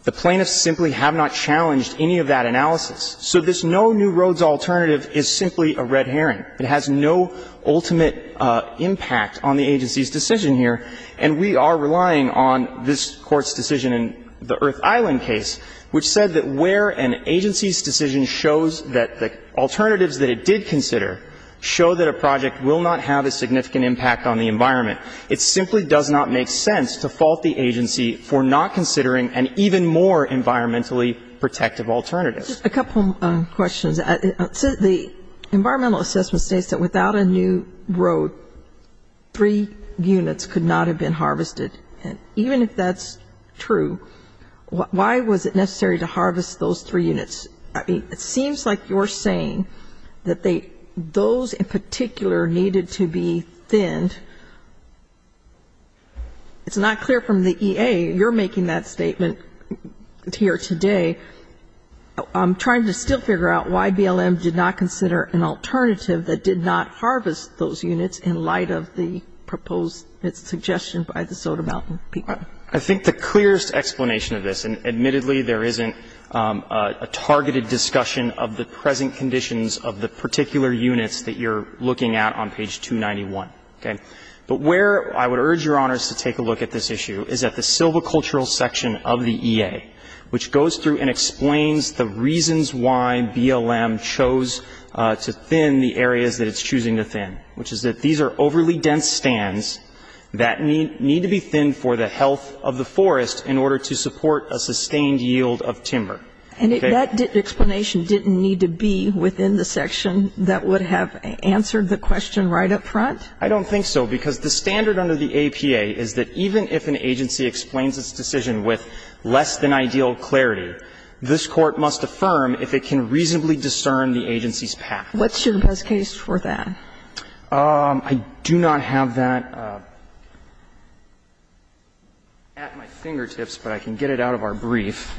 The plaintiffs simply have not challenged any of that analysis. So this no new roads alternative is simply a red herring. It has no ultimate impact on the agency's decision here, and we are relying on this Court's decision in the Earth Island case, which said that where an agency's decision shows that the alternatives that it did consider show that a project will not have a significant impact on the environment, it simply does not make sense to fault the agency for not considering an even more environmentally protective alternative. Just a couple questions. The environmental assessment states that without a new road, three units could not have been harvested. And even if that's true, why was it necessary to harvest those three units? I mean, it seems like you're saying that those in particular needed to be thinned. It's not clear from the EA. You're making that statement here today. I'm trying to still figure out why BLM did not consider an alternative that did not harvest those units in light of the proposed suggestion by the Soda Mountain people. I think the clearest explanation of this, and admittedly there isn't a targeted discussion of the present conditions of the particular units that you're looking at on page 291, okay, but where I would urge Your Honors to take a look at this issue is at the silvicultural section of the EA, which goes through and explains the reasons why BLM chose to thin the areas that it's choosing to thin, which is that these are overly dense stands that need to be thinned for the health of the forest in order to support a sustained yield of timber. And if that explanation didn't need to be within the section, that would have answered the question right up front? I don't think so, because the standard under the APA is that even if an agency explains its decision with less-than-ideal clarity, this Court must affirm if it can reasonably discern the agency's path. What's your best case for that? I do not have that at my fingertips, but I can get it out of our brief.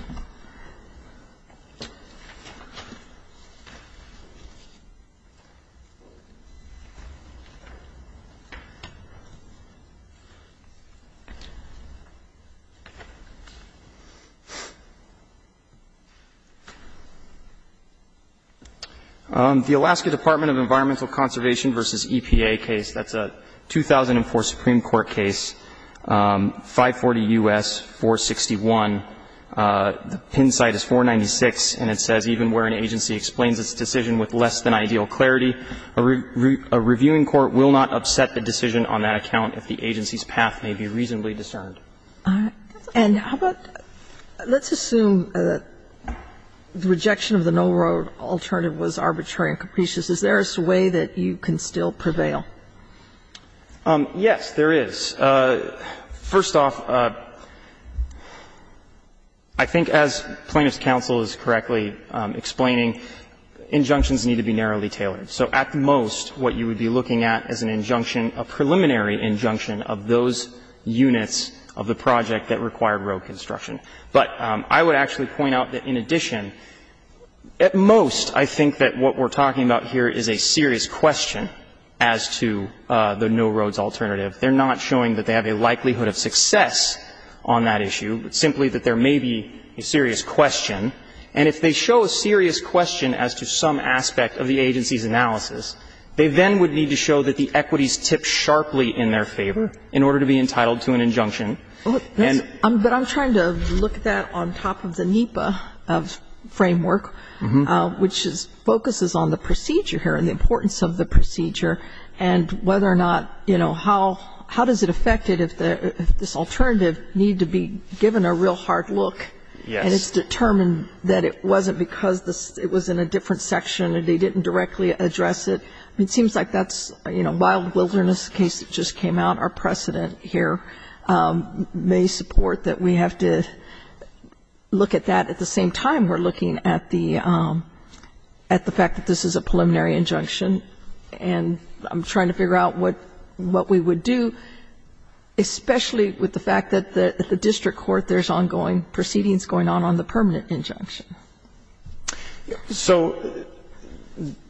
The Alaska Department of Environmental Conservation v. EPA case, that's a 2004 Supreme Court case, 540 U.S., 461. The pin site is 496, and it says, even where an agency explains its decision with less-than-ideal clarity, a reviewing court will not upset the decision on that account if the agency's path may be reasonably discerned. And how about, let's assume that the rejection of the no-road alternative was arbitrary and capricious. Is there a way that you can still prevail? Yes, there is. First off, I think as Plaintiff's counsel is correctly explaining, injunctions need to be narrowly tailored. So at most, what you would be looking at is an injunction, a preliminary injunction of those units of the project that required road construction. But I would actually point out that in addition, at most, I think that what we're talking about here is a serious question as to the no-roads alternative. They're not showing that they have a likelihood of success on that issue, but simply that there may be a serious question. And if they show a serious question as to some aspect of the agency's analysis, they then would need to show that the equities tip sharply in their favor in order to be entitled to an injunction. But I'm trying to look at that on top of the NEPA framework, which focuses on the procedure here and the importance of the procedure, and whether or not, you know, how does it affect it if this alternative needed to be given a real hard look and it's determined that it wasn't because it was in a different section and they didn't directly address it. It seems like that's, you know, a wild wilderness case that just came out. Our precedent here may support that we have to look at that. At the same time, we're looking at the fact that this is a preliminary injunction, and I'm trying to figure out what we would do, especially with the fact that at the district court there's ongoing proceedings going on on the permanent injunction. So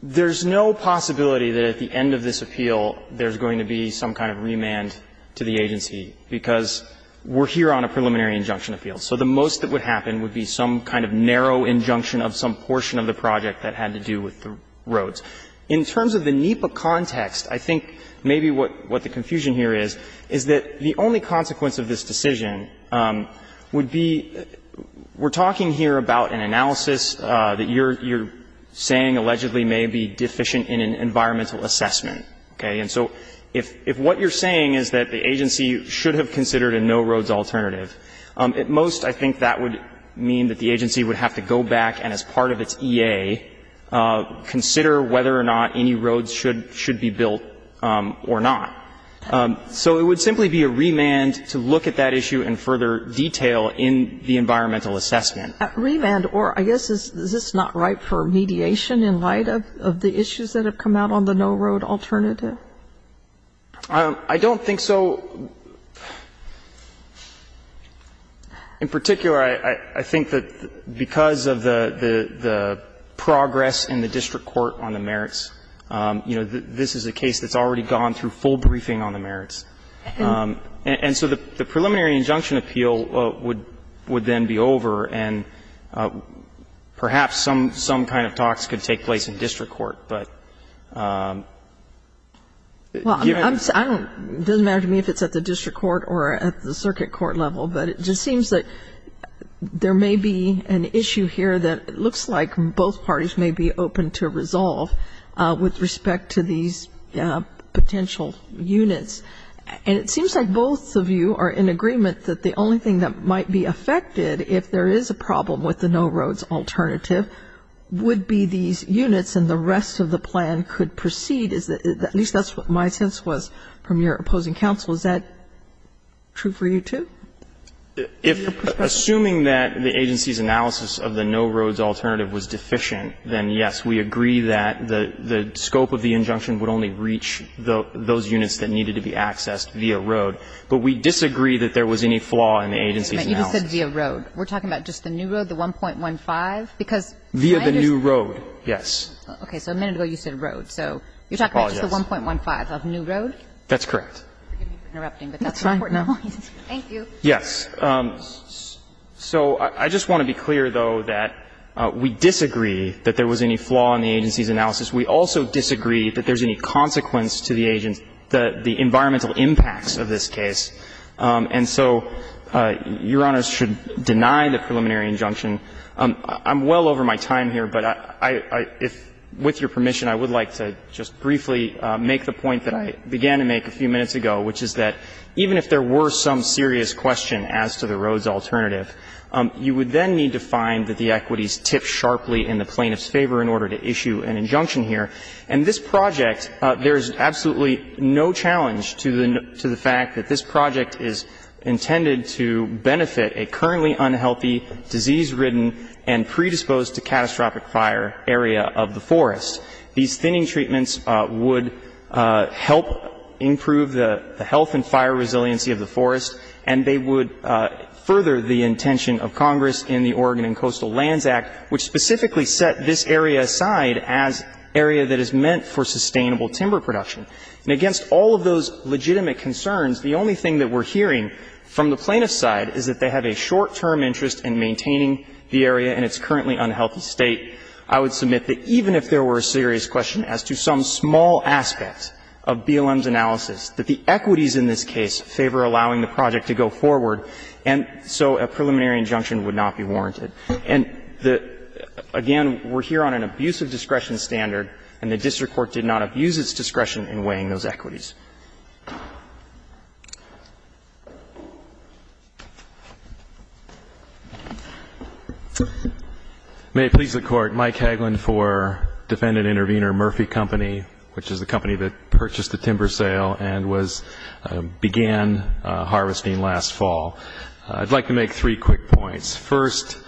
there's no possibility that at the end of this appeal there's going to be some kind of remand to the agency, because we're here on a preliminary injunction appeal. So the most that would happen would be some kind of narrow injunction of some portion of the project that had to do with the roads. In terms of the NEPA context, I think maybe what the confusion here is, is that the only consequence of this decision would be we're talking here about an analysis that you're saying allegedly may be deficient in an environmental assessment. Okay? And so if what you're saying is that the agency should have considered a no-roads alternative, at most I think that would mean that the agency would have to go back and as part of its EA consider whether or not any roads should be built or not. So it would simply be a remand to look at that issue in further detail in the environmental assessment. Remand, or I guess is this not right for mediation in light of the issues that have come out on the no-road alternative? I don't think so. In particular, I think that because of the progress in the district court on the merits, you know, this is a case that's already gone through full briefing on the merits. And so the preliminary injunction appeal would then be over, and perhaps some kind of talks could take place in district court. Well, it doesn't matter to me if it's at the district court or at the circuit court level, but it just seems that there may be an issue here that it looks like both parties may be open to resolve with respect to these potential units. And it seems like both of you are in agreement that the only thing that might be affected if there is a problem with the no-roads alternative would be these units and the rest of the plan could proceed. At least that's what my sense was from your opposing counsel. Is that true for you, too? If, assuming that the agency's analysis of the no-roads alternative was deficient, then, yes, we agree that the scope of the injunction would only reach those units that needed to be accessed via road. But we disagree that there was any flaw in the agency's analysis. You just said via road. We're talking about just the new road, the 1.15? Via the new road, yes. Okay. So a minute ago you said road. So you're talking about just the 1.15 of new road? That's correct. Forgive me for interrupting, but that's an important point. Thank you. Yes. So I just want to be clear, though, that we disagree that there was any flaw in the agency's analysis. We also disagree that there's any consequence to the environmental impacts of this And so Your Honors should deny the preliminary injunction. I'm well over my time here, but I — if — with your permission, I would like to just briefly make the point that I began to make a few minutes ago, which is that even if there were some serious question as to the roads alternative, you would then need to find that the equities tip sharply in the plaintiff's favor in order to issue an injunction here. And this project, there is absolutely no challenge to the fact that this project is intended to benefit a currently unhealthy, disease-ridden, and predisposed-to-catastrophic fire area of the forest. These thinning treatments would help improve the health and fire resiliency of the forest, and they would further the intention of Congress in the Oregon and Coastal And against all of those legitimate concerns, the only thing that we're hearing from the plaintiff's side is that they have a short-term interest in maintaining the area in its currently unhealthy state. I would submit that even if there were a serious question as to some small aspect of BLM's analysis, that the equities in this case favor allowing the project to go forward, and so a preliminary injunction would not be warranted. And again, we're here on an abuse of discretion standard, and the district court did not abuse its discretion in weighing those equities. May it please the Court, Mike Hagelin for Defendant Intervenor Murphy Company, which is the company that purchased the timber sale and was began harvesting last fall. I'd like to make three quick points. First,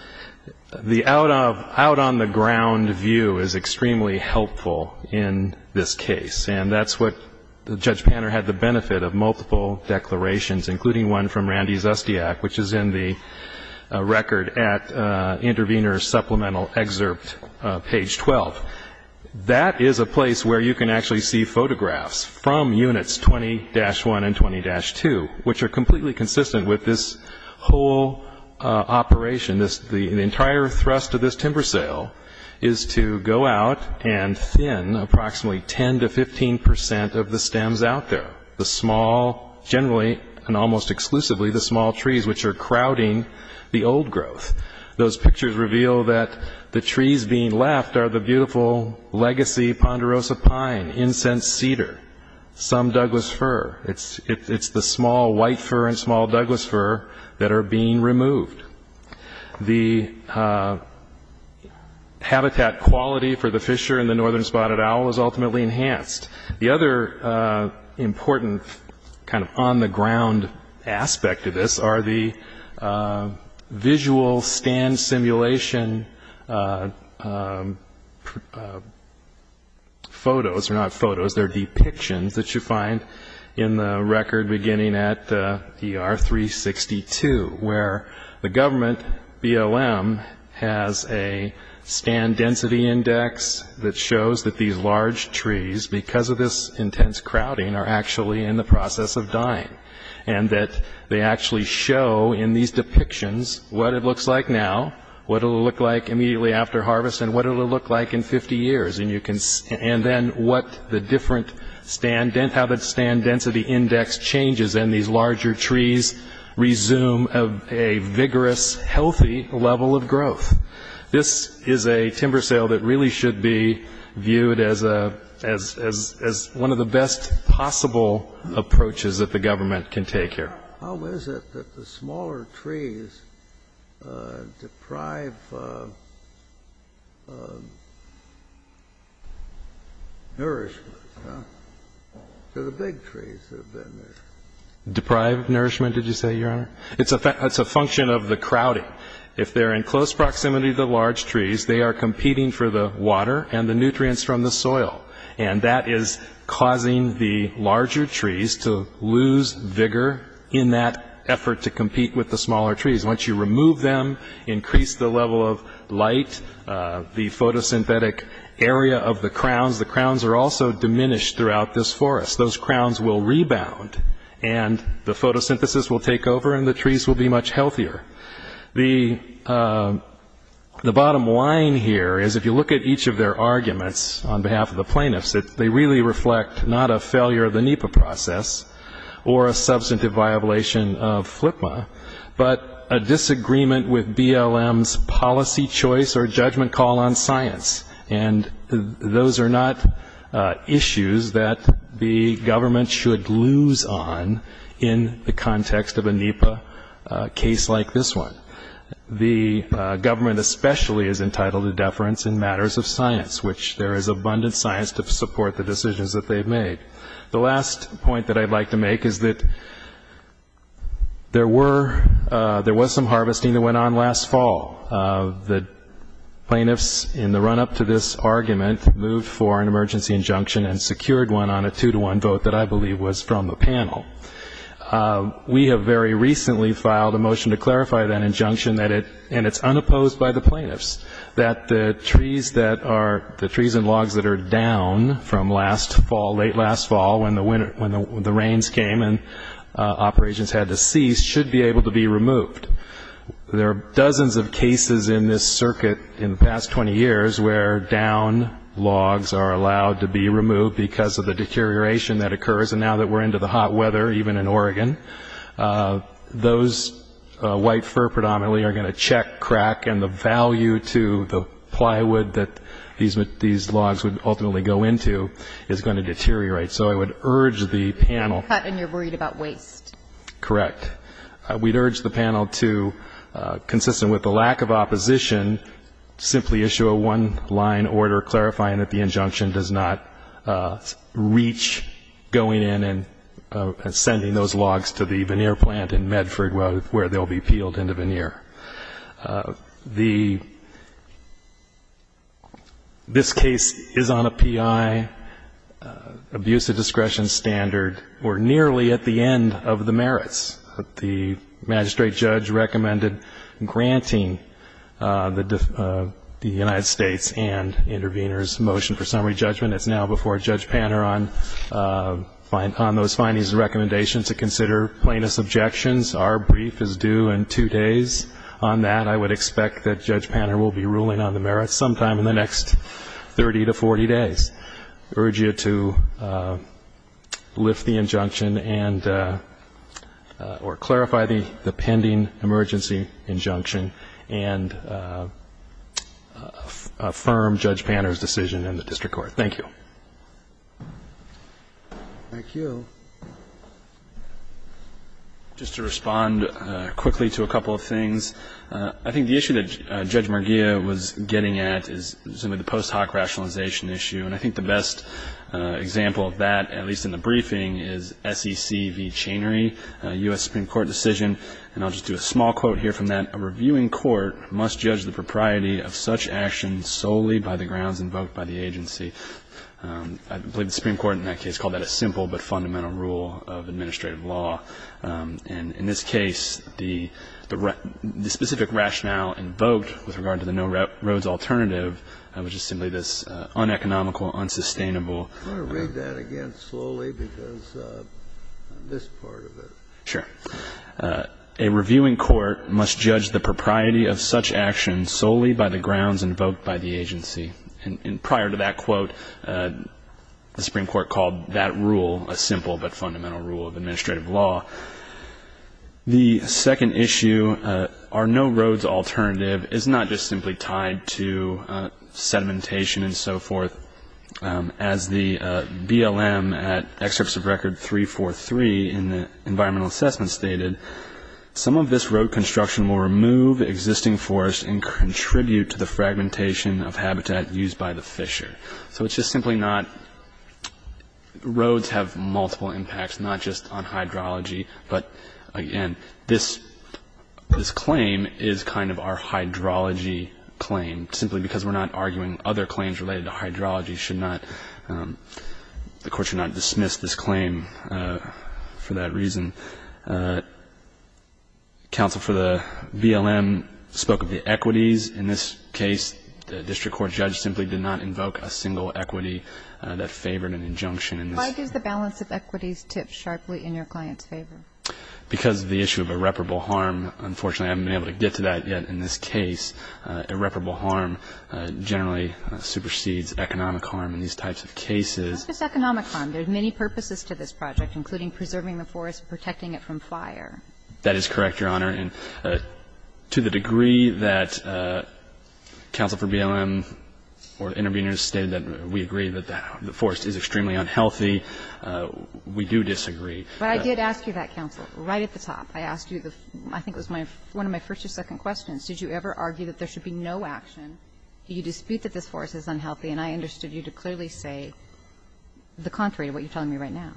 the out-on-the-ground view is extremely helpful in this case, and that's what Judge Panner had the benefit of multiple declarations, including one from Randy Zustiak, which is in the record at Intervenor Supplemental Excerpt, page 12. That is a place where you can actually see photographs from Units 20-1 and 20-2, which are completely consistent with this whole operation. The entire thrust of this timber sale is to go out and thin approximately 10 to 15 percent of the stems out there, the small generally and almost exclusively the small trees, which are crowding the old growth. Those pictures reveal that the trees being left are the beautiful legacy ponderosa pine, incense cedar, some Douglas fir. It's the small white fir and small Douglas fir that are being removed. The habitat quality for the fissure in the northern spotted owl is ultimately enhanced. The other important kind of on-the-ground aspect of this are the visual stand simulation photos, or not photos, they're depictions that you find in the record beginning at ER 362, where the government, BLM, has a stand density index that shows that these large trees, because of this intense crowding, are actually in the process of dying, and that they actually show in these depictions what it will look like immediately after harvest and what it will look like in 50 years, and then what the different stand density index changes, and these larger trees resume a vigorous, healthy level of growth. This is a timber sale that really should be viewed as one of the best possible approaches that the government can take here. How is it that the smaller trees deprive nourishment to the big trees that have been there? Deprive nourishment, did you say, Your Honor? It's a function of the crowding. If they're in close proximity to the large trees, they are competing for the water and the nutrients from the soil, and that is causing the larger trees to lose vigor in that effort to compete with the smaller trees. Once you remove them, increase the level of light, the photosynthetic area of the crowns, the crowns are also diminished throughout this forest. Those crowns will rebound, and the photosynthesis will take over, and the trees will be much healthier. The bottom line here is if you look at each of their arguments on behalf of the plaintiffs, they really reflect not a failure of the NEPA process or a substantive violation of FLIPMA, but a disagreement with BLM's policy choice or judgment call on science. And those are not issues that the government should lose on in the context of a NEPA case like this one. The government especially is entitled to deference in matters of science, which there is abundant science to support the decisions that they've made. The last point that I'd like to make is that there was some harvesting that went on last fall. The plaintiffs in the run-up to this argument moved for an emergency injunction and secured one on a two-to-one vote that I believe was from a panel. We have very recently filed a motion to clarify that injunction, and it's unopposed by the plaintiffs, that the trees and logs that are down from late last fall when the rains came and operations had to cease should be able to be removed. There are dozens of cases in this circuit in the past 20 years where down logs are allowed to be removed because of the deterioration that occurs, and now that we're into the hot weather, even in Oregon, those white fir predominantly are going to check, crack, and the value to the plywood that these logs would ultimately go into is going to deteriorate. So I would urge the panel. Cut and you're worried about waste. Correct. We'd urge the panel to, consistent with the lack of opposition, simply issue a one-line order clarifying that the injunction does not reach going in and sending those logs to the veneer plant in Medford where they'll be peeled into veneer. This case is on a P.I. abusive discretion standard. We're nearly at the end of the merits. The magistrate judge recommended granting the United States and intervenors motion for summary judgment. It's now before Judge Panner on those findings and recommendations to consider plaintiff's objections. Our brief is due in two days. On that, I would expect that Judge Panner will be ruling on the merits sometime in the next 30 to 40 days. I urge you to lift the injunction or clarify the pending emergency injunction and affirm Judge Panner's decision in the district court. Thank you. Thank you. Just to respond quickly to a couple of things, I think the issue that Judge Marghia was getting at is some of the post hoc rationalization issue. And I think the best example of that, at least in the briefing, is SEC v. Chainery, U.S. Supreme Court decision. And I'll just do a small quote here from that. I believe the Supreme Court in that case called that a simple but fundamental rule of administrative law. And in this case, the specific rationale invoked with regard to the no roads alternative was just simply this uneconomical, unsustainable. I'm going to read that again slowly because this part of it. Sure. A reviewing court must judge the propriety of such actions solely by the grounds invoked by the agency. And prior to that quote, the Supreme Court called that rule a simple but fundamental rule of administrative law. The second issue, our no roads alternative, is not just simply tied to sedimentation and so forth. As the BLM at excerpts of record 343 in the environmental assessment stated, some of this road construction will remove existing forest and contribute to the fragmentation of habitat used by the fisher. So it's just simply not roads have multiple impacts, not just on hydrology. But, again, this claim is kind of our hydrology claim, simply because we're not arguing other claims related to hydrology should not, the court should not dismiss this claim for that reason. Counsel for the BLM spoke of the equities. In this case, the district court judge simply did not invoke a single equity that favored an injunction. Why does the balance of equities tip sharply in your client's favor? Because of the issue of irreparable harm. Unfortunately, I haven't been able to get to that yet in this case. Irreparable harm generally supersedes economic harm in these types of cases. It's not just economic harm. There are many purposes to this project, including preserving the forest and protecting it from fire. That is correct, Your Honor. And to the degree that counsel for BLM or intervenors stated that we agree that the forest is extremely unhealthy, we do disagree. But I did ask you that, counsel, right at the top. I asked you the, I think it was my, one of my first or second questions. Did you ever argue that there should be no action? Do you dispute that this forest is unhealthy? And I understood you to clearly say the contrary to what you're telling me right now.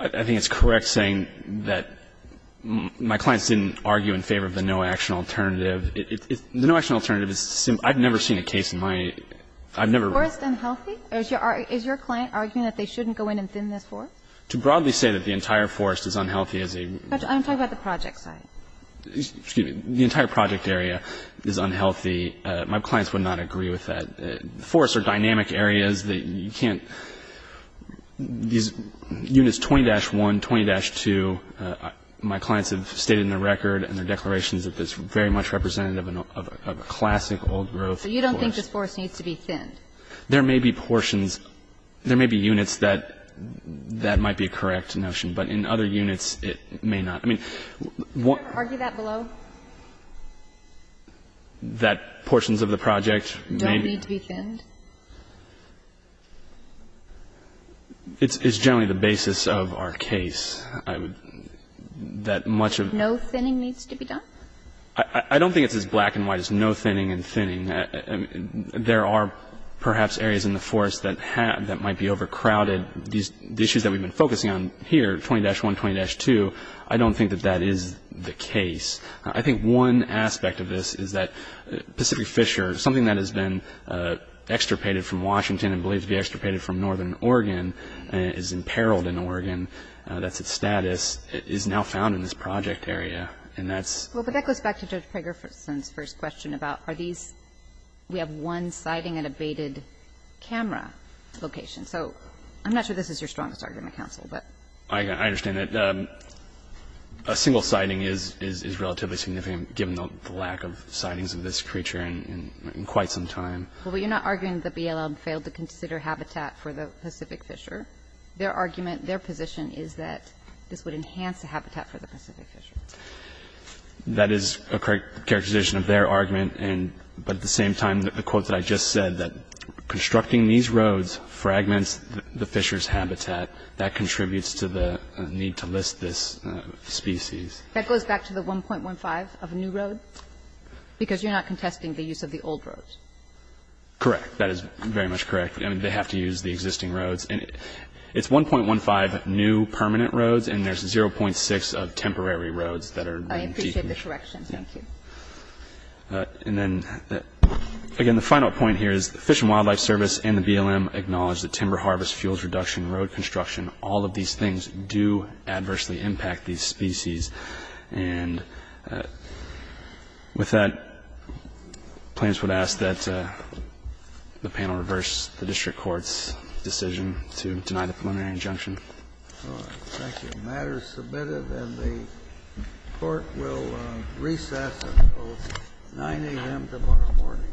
I think it's correct saying that my clients didn't argue in favor of the no-action alternative. The no-action alternative is, I've never seen a case in my, I've never. Forest unhealthy? Is your client arguing that they shouldn't go in and thin this forest? To broadly say that the entire forest is unhealthy is a... I'm talking about the project side. Excuse me. The entire project area is unhealthy. My clients would not agree with that. Forests are dynamic areas that you can't, these units 20-1, 20-2, my clients have stated in their record and their declarations that it's very much representative of a classic old growth forest. So you don't think this forest needs to be thinned? There may be portions, there may be units that that might be a correct notion, but in other units it may not. I mean... Did you ever argue that below? That portions of the project may... Don't need to be thinned? It's generally the basis of our case. That much of... No thinning needs to be done? I don't think it's as black and white as no thinning and thinning. There are perhaps areas in the forest that might be overcrowded. The issues that we've been focusing on here, 20-1, 20-2, I don't think that that is the case. I think one aspect of this is that Pacific Fisher, something that has been extirpated from Washington and believed to be extirpated from northern Oregon and is imperiled in Oregon, that's its status, is now found in this project area, and that's... I'm not sure this is your strongest argument, counsel, but... I understand that a single siding is relatively significant given the lack of sidings of this creature in quite some time. Well, but you're not arguing that BLM failed to consider habitat for the Pacific Fisher. Their argument, their position is that this would enhance the habitat for the Pacific Fisher. That is a correct assumption. That's a correct characterization of their argument, but at the same time, the quote that I just said, that constructing these roads fragments the Fisher's habitat. That contributes to the need to list this species. That goes back to the 1.15 of a new road? Because you're not contesting the use of the old roads. Correct. That is very much correct. I mean, they have to use the existing roads. It's 1.15 new permanent roads, and there's 0.6 of temporary roads that are... I appreciate the correction. Thank you. And then, again, the final point here is the Fish and Wildlife Service and the BLM acknowledge that timber harvest, fuels reduction, road construction, all of these things do adversely impact these species. And with that, plaintiffs would ask that the panel reverse the district court's decision to deny the preliminary injunction. All right. Thank you. The matter is submitted, and the court will recess until 9 a.m. tomorrow morning.